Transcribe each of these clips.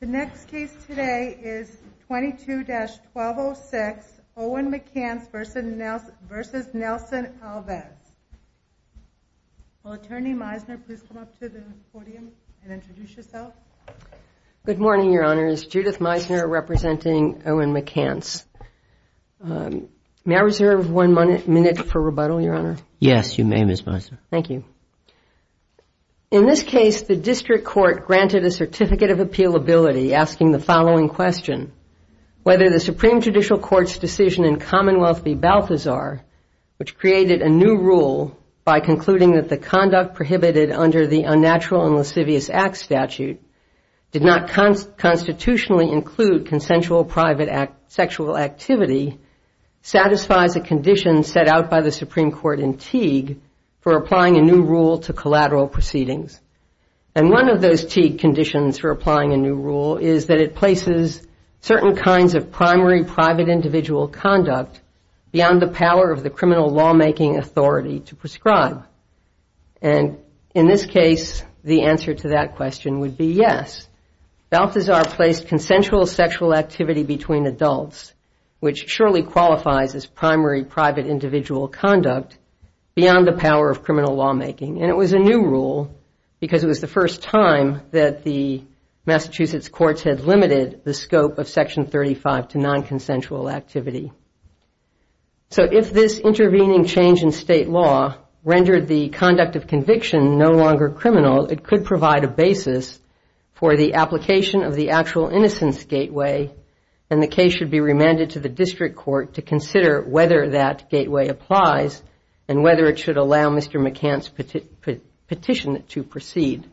The next case today is 22-1206 Owen McCants v. Nelson Alves. Will Attorney Meisner please come up to the podium and introduce yourself? Good morning, Your Honor. It's Judith Meisner representing Owen McCants. May I reserve one minute for rebuttal, Your Honor? Yes, you may, Ms. Meisner. Thank you. In this case, the district court granted a certificate of appealability asking the following question. Whether the Supreme Judicial Court's decision in Commonwealth v. Balthazar, which created a new rule by concluding that the conduct prohibited under the Unnatural and Lascivious Acts Statute did not constitutionally include consensual private sexual activity, satisfies a condition set out by the Supreme Court in Teague for applying a new rule to collateral proceedings. And one of those Teague conditions for applying a new rule is that it places certain kinds of primary private individual conduct beyond the power of the criminal lawmaking authority to prescribe. And in this case, the answer to that question would be yes. Balthazar placed consensual sexual activity between adults, which surely qualifies as primary private individual conduct, beyond the power of criminal lawmaking. And it was a new rule because it was the first time that the Massachusetts courts had limited the scope of Section 35 to nonconsensual activity. So if this intervening change in state law rendered the conduct of conviction no longer criminal, it could provide a basis for the application of the actual innocence gateway, and the case should be remanded to the district court to consider whether that gateway applies and whether it should allow Mr. McCann's petition to proceed.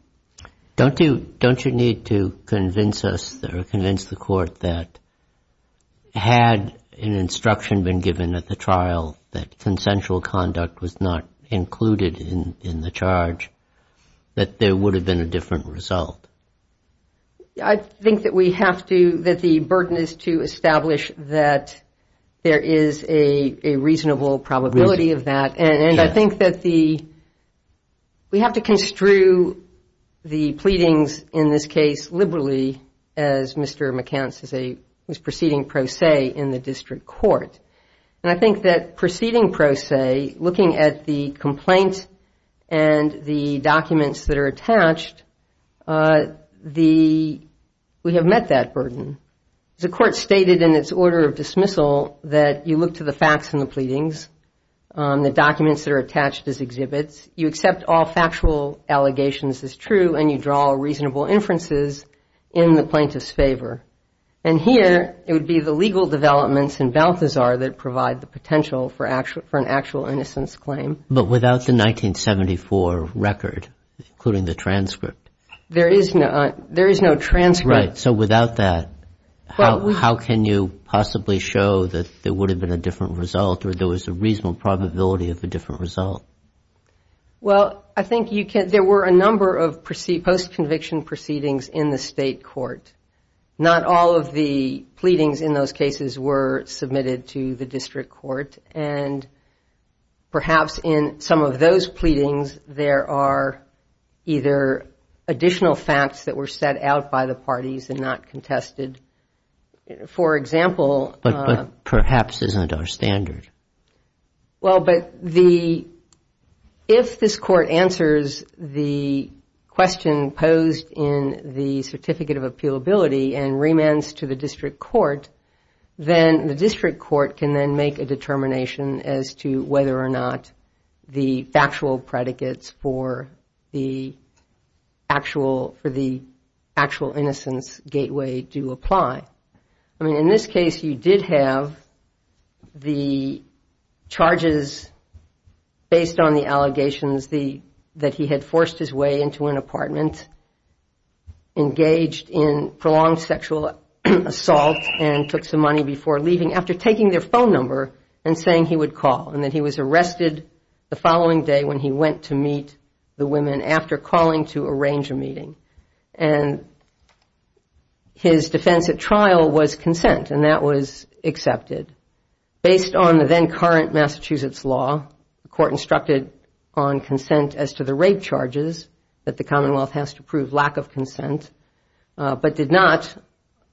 Don't you need to convince us or convince the court that had an instruction been given at the trial that consensual conduct was not included in the charge, that there would have been a different result? I think that we have to, that the burden is to establish that there is a reasonable probability of that. And I think that the, we have to construe the pleadings in this case liberally, as Mr. McCann was proceeding pro se in the district court. And I think that proceeding pro se, looking at the complaint and the documents that are attached, the, we have met that burden. The court stated in its order of dismissal that you look to the facts in the pleadings, the documents that are attached as exhibits, you accept all factual allegations as true, and you draw reasonable inferences in the plaintiff's favor. And here, it would be the legal developments in Balthazar that provide the potential for an actual innocence claim. But without the 1974 record, including the transcript? There is no transcript. Right. So without that, how can you possibly show that there would have been a different result or there was a reasonable probability of a different result? Well, I think you can, there were a number of post-conviction proceedings in the state court. Not all of the pleadings in those cases were submitted to the district court. And perhaps in some of those pleadings, there are either additional facts that were set out by the parties and not contested. For example. But perhaps isn't our standard. Well, but if this court answers the question posed in the Certificate of Appealability and remands to the district court, then the district court can then make a determination as to whether or not the factual predicates for the actual innocence gateway do apply. I mean, in this case, you did have the charges based on the allegations that he had forced his way into an apartment, engaged in prolonged sexual assault and took some money before leaving, after taking their phone number and saying he would call. And that he was arrested the following day when he went to meet the women after calling to arrange a meeting. And his defense at trial was consent. And that was accepted. Based on the then current Massachusetts law, the court instructed on consent as to the rape charges that the Commonwealth has to prove lack of consent, but did not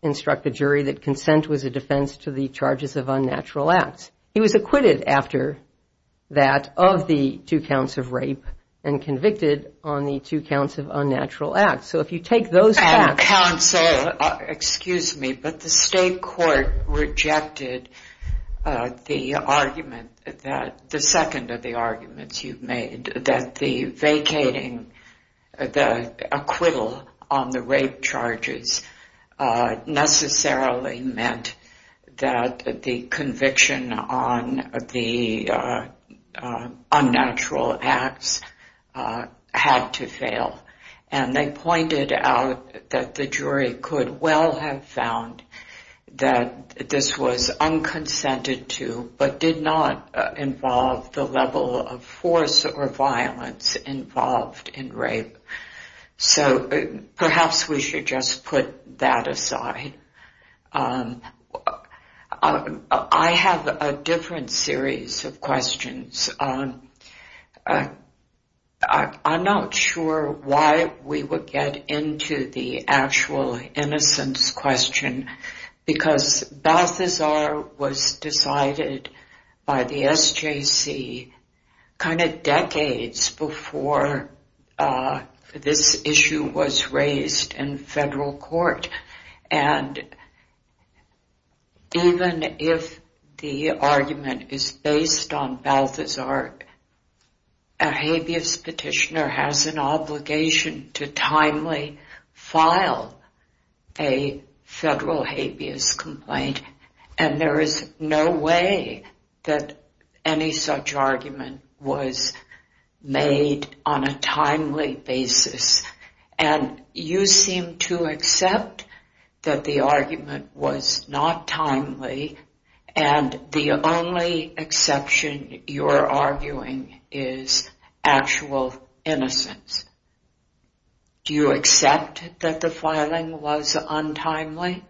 instruct the jury that consent was a defense to the charges of unnatural acts. He was acquitted after that of the two counts of rape and convicted on the two counts of unnatural acts. So if you take those facts. Counsel, excuse me, but the state court rejected the argument, the second of the arguments you've made, that the vacating, the acquittal on the rape charges necessarily meant that the conviction of unnatural acts had to fail. And they pointed out that the jury could well have found that this was unconsented to, but did not involve the level of force or violence involved in rape. So perhaps we should just put that aside. I have a different series of questions. I'm not sure why we would get into the actual innocence question, because Balthazar was decided by the SJC kind of decades before this issue was raised in federal court. And even if the argument is based on Balthazar, a habeas petitioner has an obligation to timely file a federal habeas complaint. And there is no way that any such argument was made on a timely basis. And you seem to accept that the argument was not timely, and the only exception you're arguing is actual innocence. Do you accept that the filing was untimely?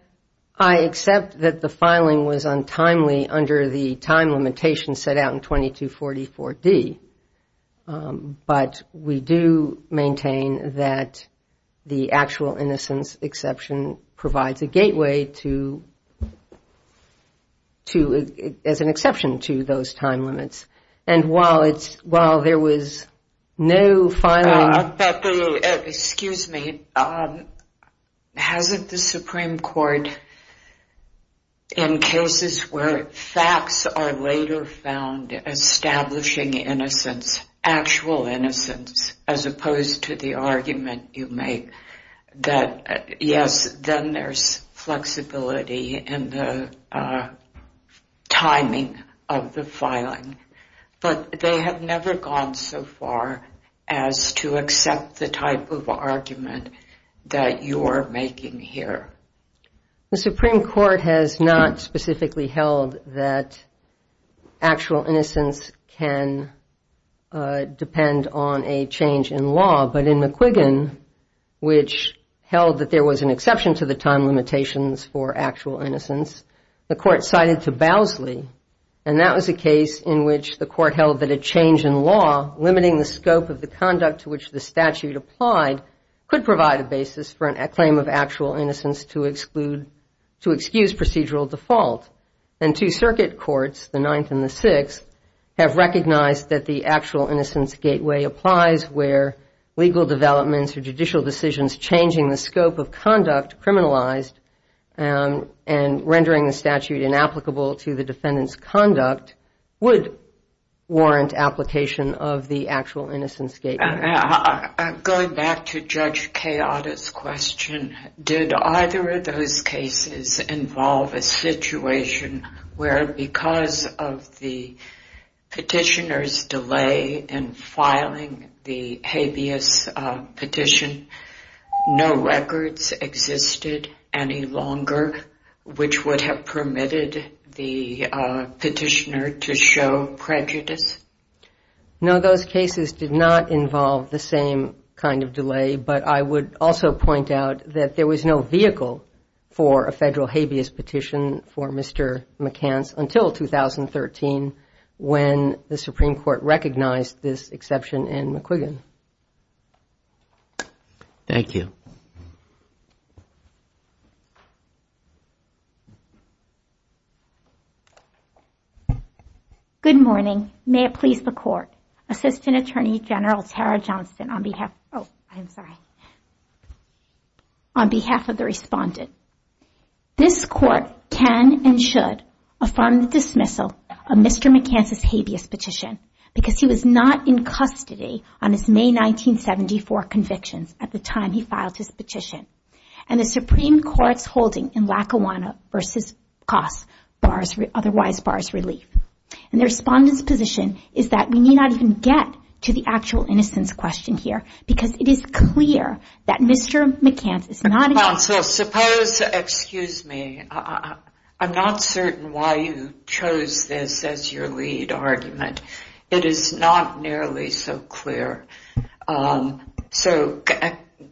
I accept that the filing was untimely under the time limitation set out in 2244D. But we do maintain that the actual innocence exception provides a gateway as an exception to those time limits. And while there was no filing... Excuse me. Hasn't the Supreme Court, in cases where facts are later found establishing innocence, actual innocence, as opposed to the argument you make, that yes, then there's flexibility in the timing of the filing. But they have never gone so far as to accept the type of argument that you're making here. The Supreme Court has not specifically held that actual innocence can depend on a change in law, but in McQuiggan, which held that there was an exception to the time limitations for actual innocence, the court cited to Bowsley, and that was a case in which the court held that a change in law, limiting the scope of the conduct to which the statute applied, could provide a basis for a claim of actual innocence to excuse procedural default. And two circuit courts, the Ninth and the Sixth, have recognized that the actual innocence gateway applies where legal developments or judicial decisions changing the scope of conduct, criminalized, and rendering the statute inapplicable to the defendant's conduct, would warrant application of the actual innocence gateway. Going back to Judge Kayada's question, did either of those cases involve a situation where, because of the petitioner's delay in filing the habeas petition, no records existed any longer, which would have permitted the petitioner to show prejudice? No, those cases did not involve the same kind of delay, but I would also point out that there was no vehicle for a federal habeas petition for Mr. McCance until 2013, when the Supreme Court recognized this exception in McQuiggan. Thank you. Good morning. May it please the Court. Assistant Attorney General Tara Johnston on behalf of the respondent. This Court can and should affirm the dismissal of Mr. McCance's habeas petition, because he was not in custody on his behalf. He was in custody until his May 1974 convictions, at the time he filed his petition. And the Supreme Court's holding in Lackawanna v. Coss otherwise bars relief. And the respondent's position is that we need not even get to the actual innocence question here, because it is clear that Mr. McCance is not in custody. Counsel, suppose, excuse me, I'm not certain why you chose this as your lead argument. It is not nearly so clear. So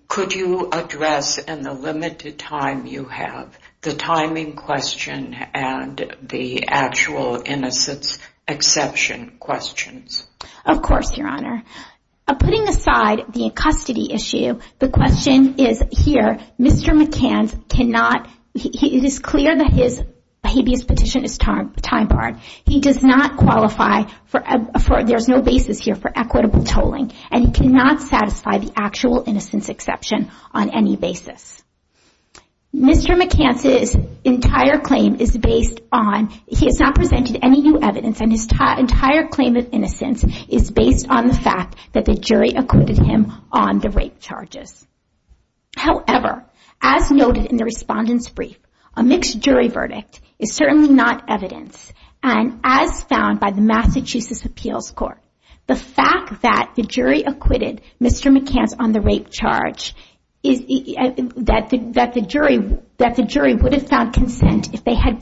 could you address, in the limited time you have, the timing question and the actual innocence exception questions? Of course, Your Honor. Putting aside the custody issue, the question is here, Mr. McCance cannot, it is clear that his habeas petition is time-barred. He does not qualify for, there is no basis here for equitable tolling. And he cannot satisfy the actual innocence exception on any basis. Mr. McCance's entire claim is based on, he has not presented any new evidence, and his entire claim of innocence is based on the fact that the jury acquitted him on the rape charges. However, as noted in the respondent's brief, a mixed jury verdict is certainly not evidence. And as found by the Massachusetts Appeals Court, the fact that the jury acquitted Mr. McCance on the rape charge, that the jury would have found consent if they had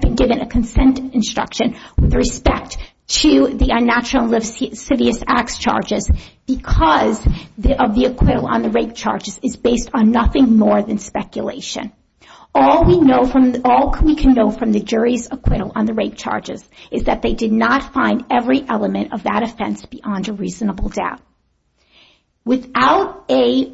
been given a consent instruction with respect to the unnatural and lascivious acts charges, because of the acquittal on the rape charges is based on nothing more than speculation. All we can know from the jury's acquittal on the rape charges is that they did not find every element of that offense beyond a reasonable doubt. Without a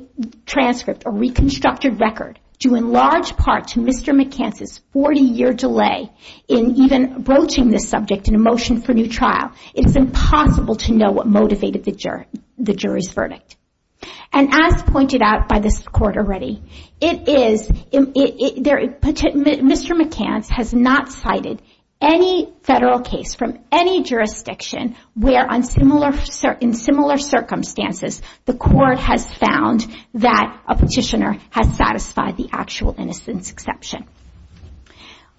transcript, a reconstructed record, due in large part to Mr. McCance's 40-year delay in even broaching this subject in a motion for new trial, it's impossible to know what motivated the jury's verdict. And as pointed out by this Court already, Mr. McCance has not cited any federal case from any jurisdiction where, in similar circumstances, the Court has found that a petitioner has satisfied the actual innocence exception.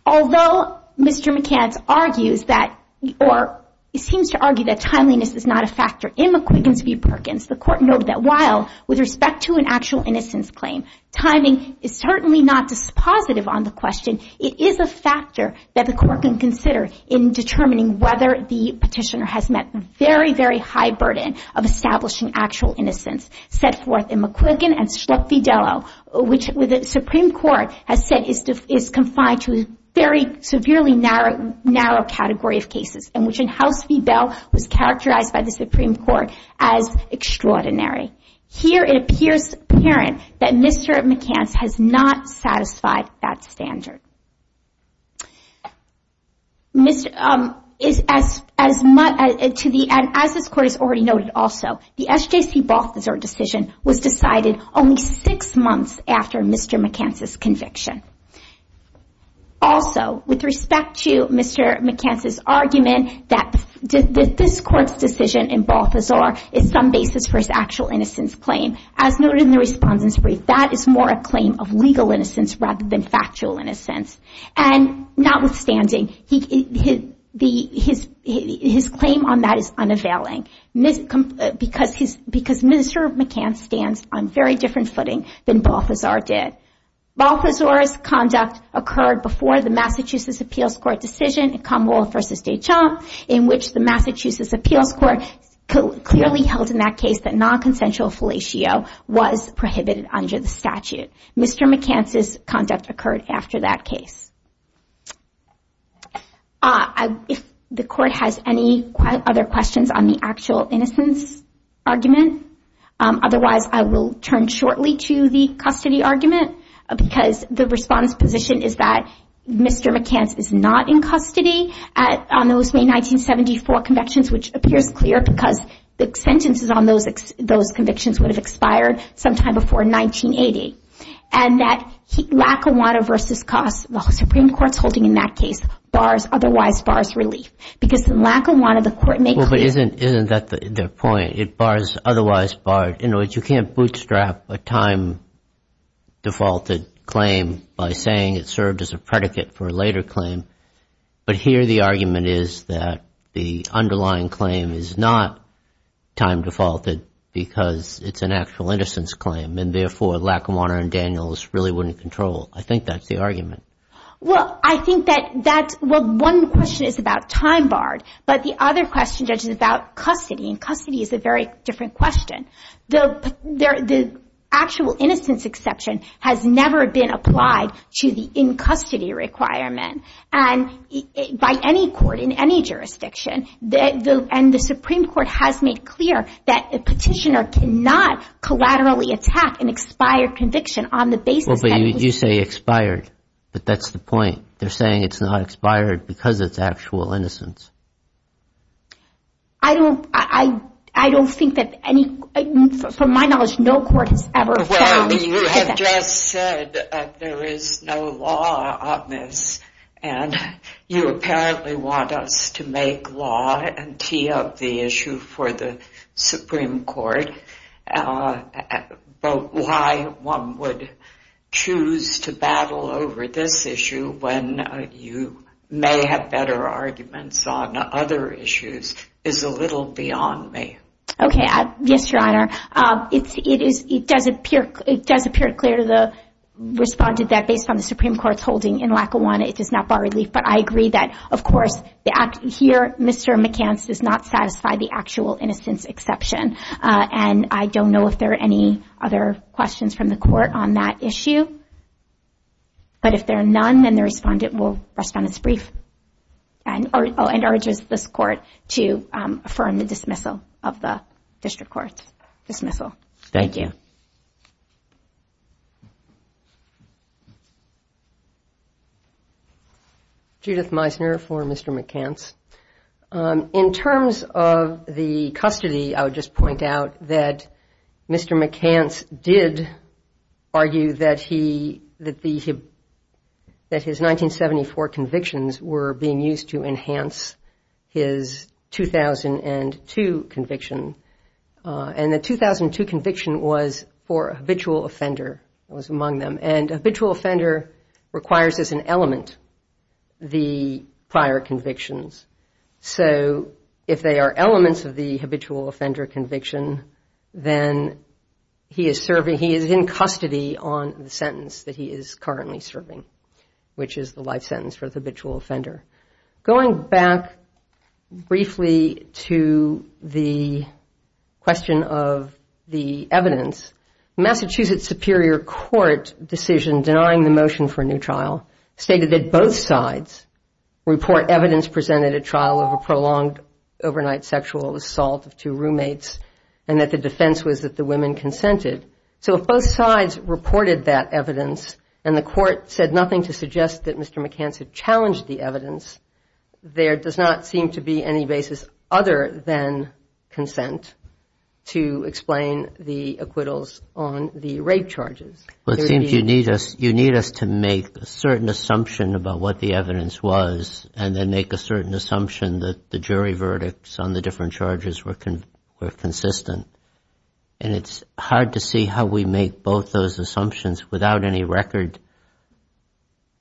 Although Mr. McCance argues that, or seems to argue that timeliness is not a factor in McQuiggan v. Perkins, the Court noted that while, with respect to an actual innocence claim, timing is certainly not dispositive on the question, it is a factor that the Court can consider in determining whether the petitioner has met the very, very high burden of establishing actual innocence set forth in McQuiggan and Schlecht v. Dello, which the Supreme Court has said is confined to a very severely narrow category of cases, and which in House v. Bell was characterized by the Supreme Court as extraordinary. Here it appears apparent that Mr. McCance has not satisfied that standard. As this Court has already noted also, the SJC Balthazar decision was decided only six months after Mr. McCance's conviction. Also, with respect to Mr. McCance's argument that this Court's decision in Balthazar is some basis for his actual innocence claim, as noted in the Respondent's Brief, that is more a claim of legal innocence rather than factual innocence. And notwithstanding, his claim on that is unavailing, because Mr. McCance stands on very different footing than Balthazar did. Balthazar's conduct occurred before the Massachusetts Appeals Court decision in Commonwealth v. Deschamps, in which the Massachusetts Appeals Court clearly held in that case that nonconsensual fellatio was prohibited under the statute. Mr. McCance's conduct occurred after that case. If the Court has any other questions on the actual innocence argument, otherwise I will turn shortly to the custody argument, because the Respondent's position is that Mr. McCance is not in custody. On those May 1974 convictions, which appears clear, because the sentences on those convictions would have expired sometime before 1980. And that lack of want of versus cost, the Supreme Court's holding in that case, bars, otherwise bars relief. Because the lack of want of the Court may clear... Well, but isn't that the point? It bars, otherwise bars. In other words, you can't bootstrap a time-defaulted claim by saying it served as a predicate for a later claim. But here the argument is that the underlying claim is not time-defaulted, because it's an actual innocence claim. And therefore, lack of want of Daniels really wouldn't control. I think that's the argument. Well, I think that that's, well, one question is about time barred, but the other question, Judge, is about custody. And custody is a very different question. The actual innocence exception has never been applied to the in-custody requirement by any court in any jurisdiction. And the Supreme Court has made clear that a petitioner cannot collaterally attack an expired conviction on the basis that... Well, but you say expired, but that's the point. They're saying it's not expired because it's actual innocence. I don't think that any, from my knowledge, no court has ever found... Well, you have just said that there is no law on this. And you apparently want us to make law and tee up the issue for the Supreme Court, why one would choose to battle over this issue when you may have better arguments on it. And I think that the Supreme Court's position on other issues is a little beyond me. Okay. Yes, Your Honor. It does appear clear to the respondent that based on the Supreme Court's holding in lack of want, it does not bar relief. But I agree that, of course, here, Mr. McCance does not satisfy the actual innocence exception. And I don't know if there are any other questions from the court on that issue. But if there are none, then the respondent will respond as brief and urges this court to affirm the dismissal of the district court's dismissal. Thank you. Judith Meissner for Mr. McCance. I would like to point out that Mr. McCance did argue that his 1974 convictions were being used to enhance his 2002 conviction. And the 2002 conviction was for a habitual offender, was among them. And habitual offender requires as an element the prior convictions. So if they are elements of the habitual offender conviction, then he is serving, he is in custody on the sentence that he is currently serving, which is the life sentence for the habitual offender. Going back briefly to the question of the evidence, the Massachusetts Superior Court decision denying the motion for a new trial stated that both sides report evidence presenting that there is a trial of a prolonged overnight sexual assault of two roommates and that the defense was that the women consented. So if both sides reported that evidence and the court said nothing to suggest that Mr. McCance had challenged the evidence, there does not seem to be any basis other than consent to explain the acquittals on the rape charges. Well, it seems you need us to make a certain assumption about what the evidence was and then make a certain assumption that the jury verdicts on the different charges were consistent. And it's hard to see how we make both those assumptions without any record.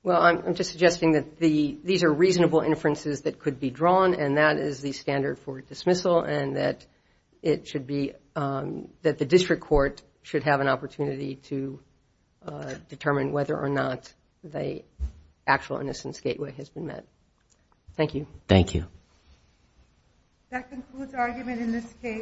Well, I'm just suggesting that these are reasonable inferences that could be drawn and that is the standard for dismissal and that it should be, that the district court should have an opportunity to make those inferences. And then determine whether or not the actual innocence gateway has been met. Thank you. Thank you.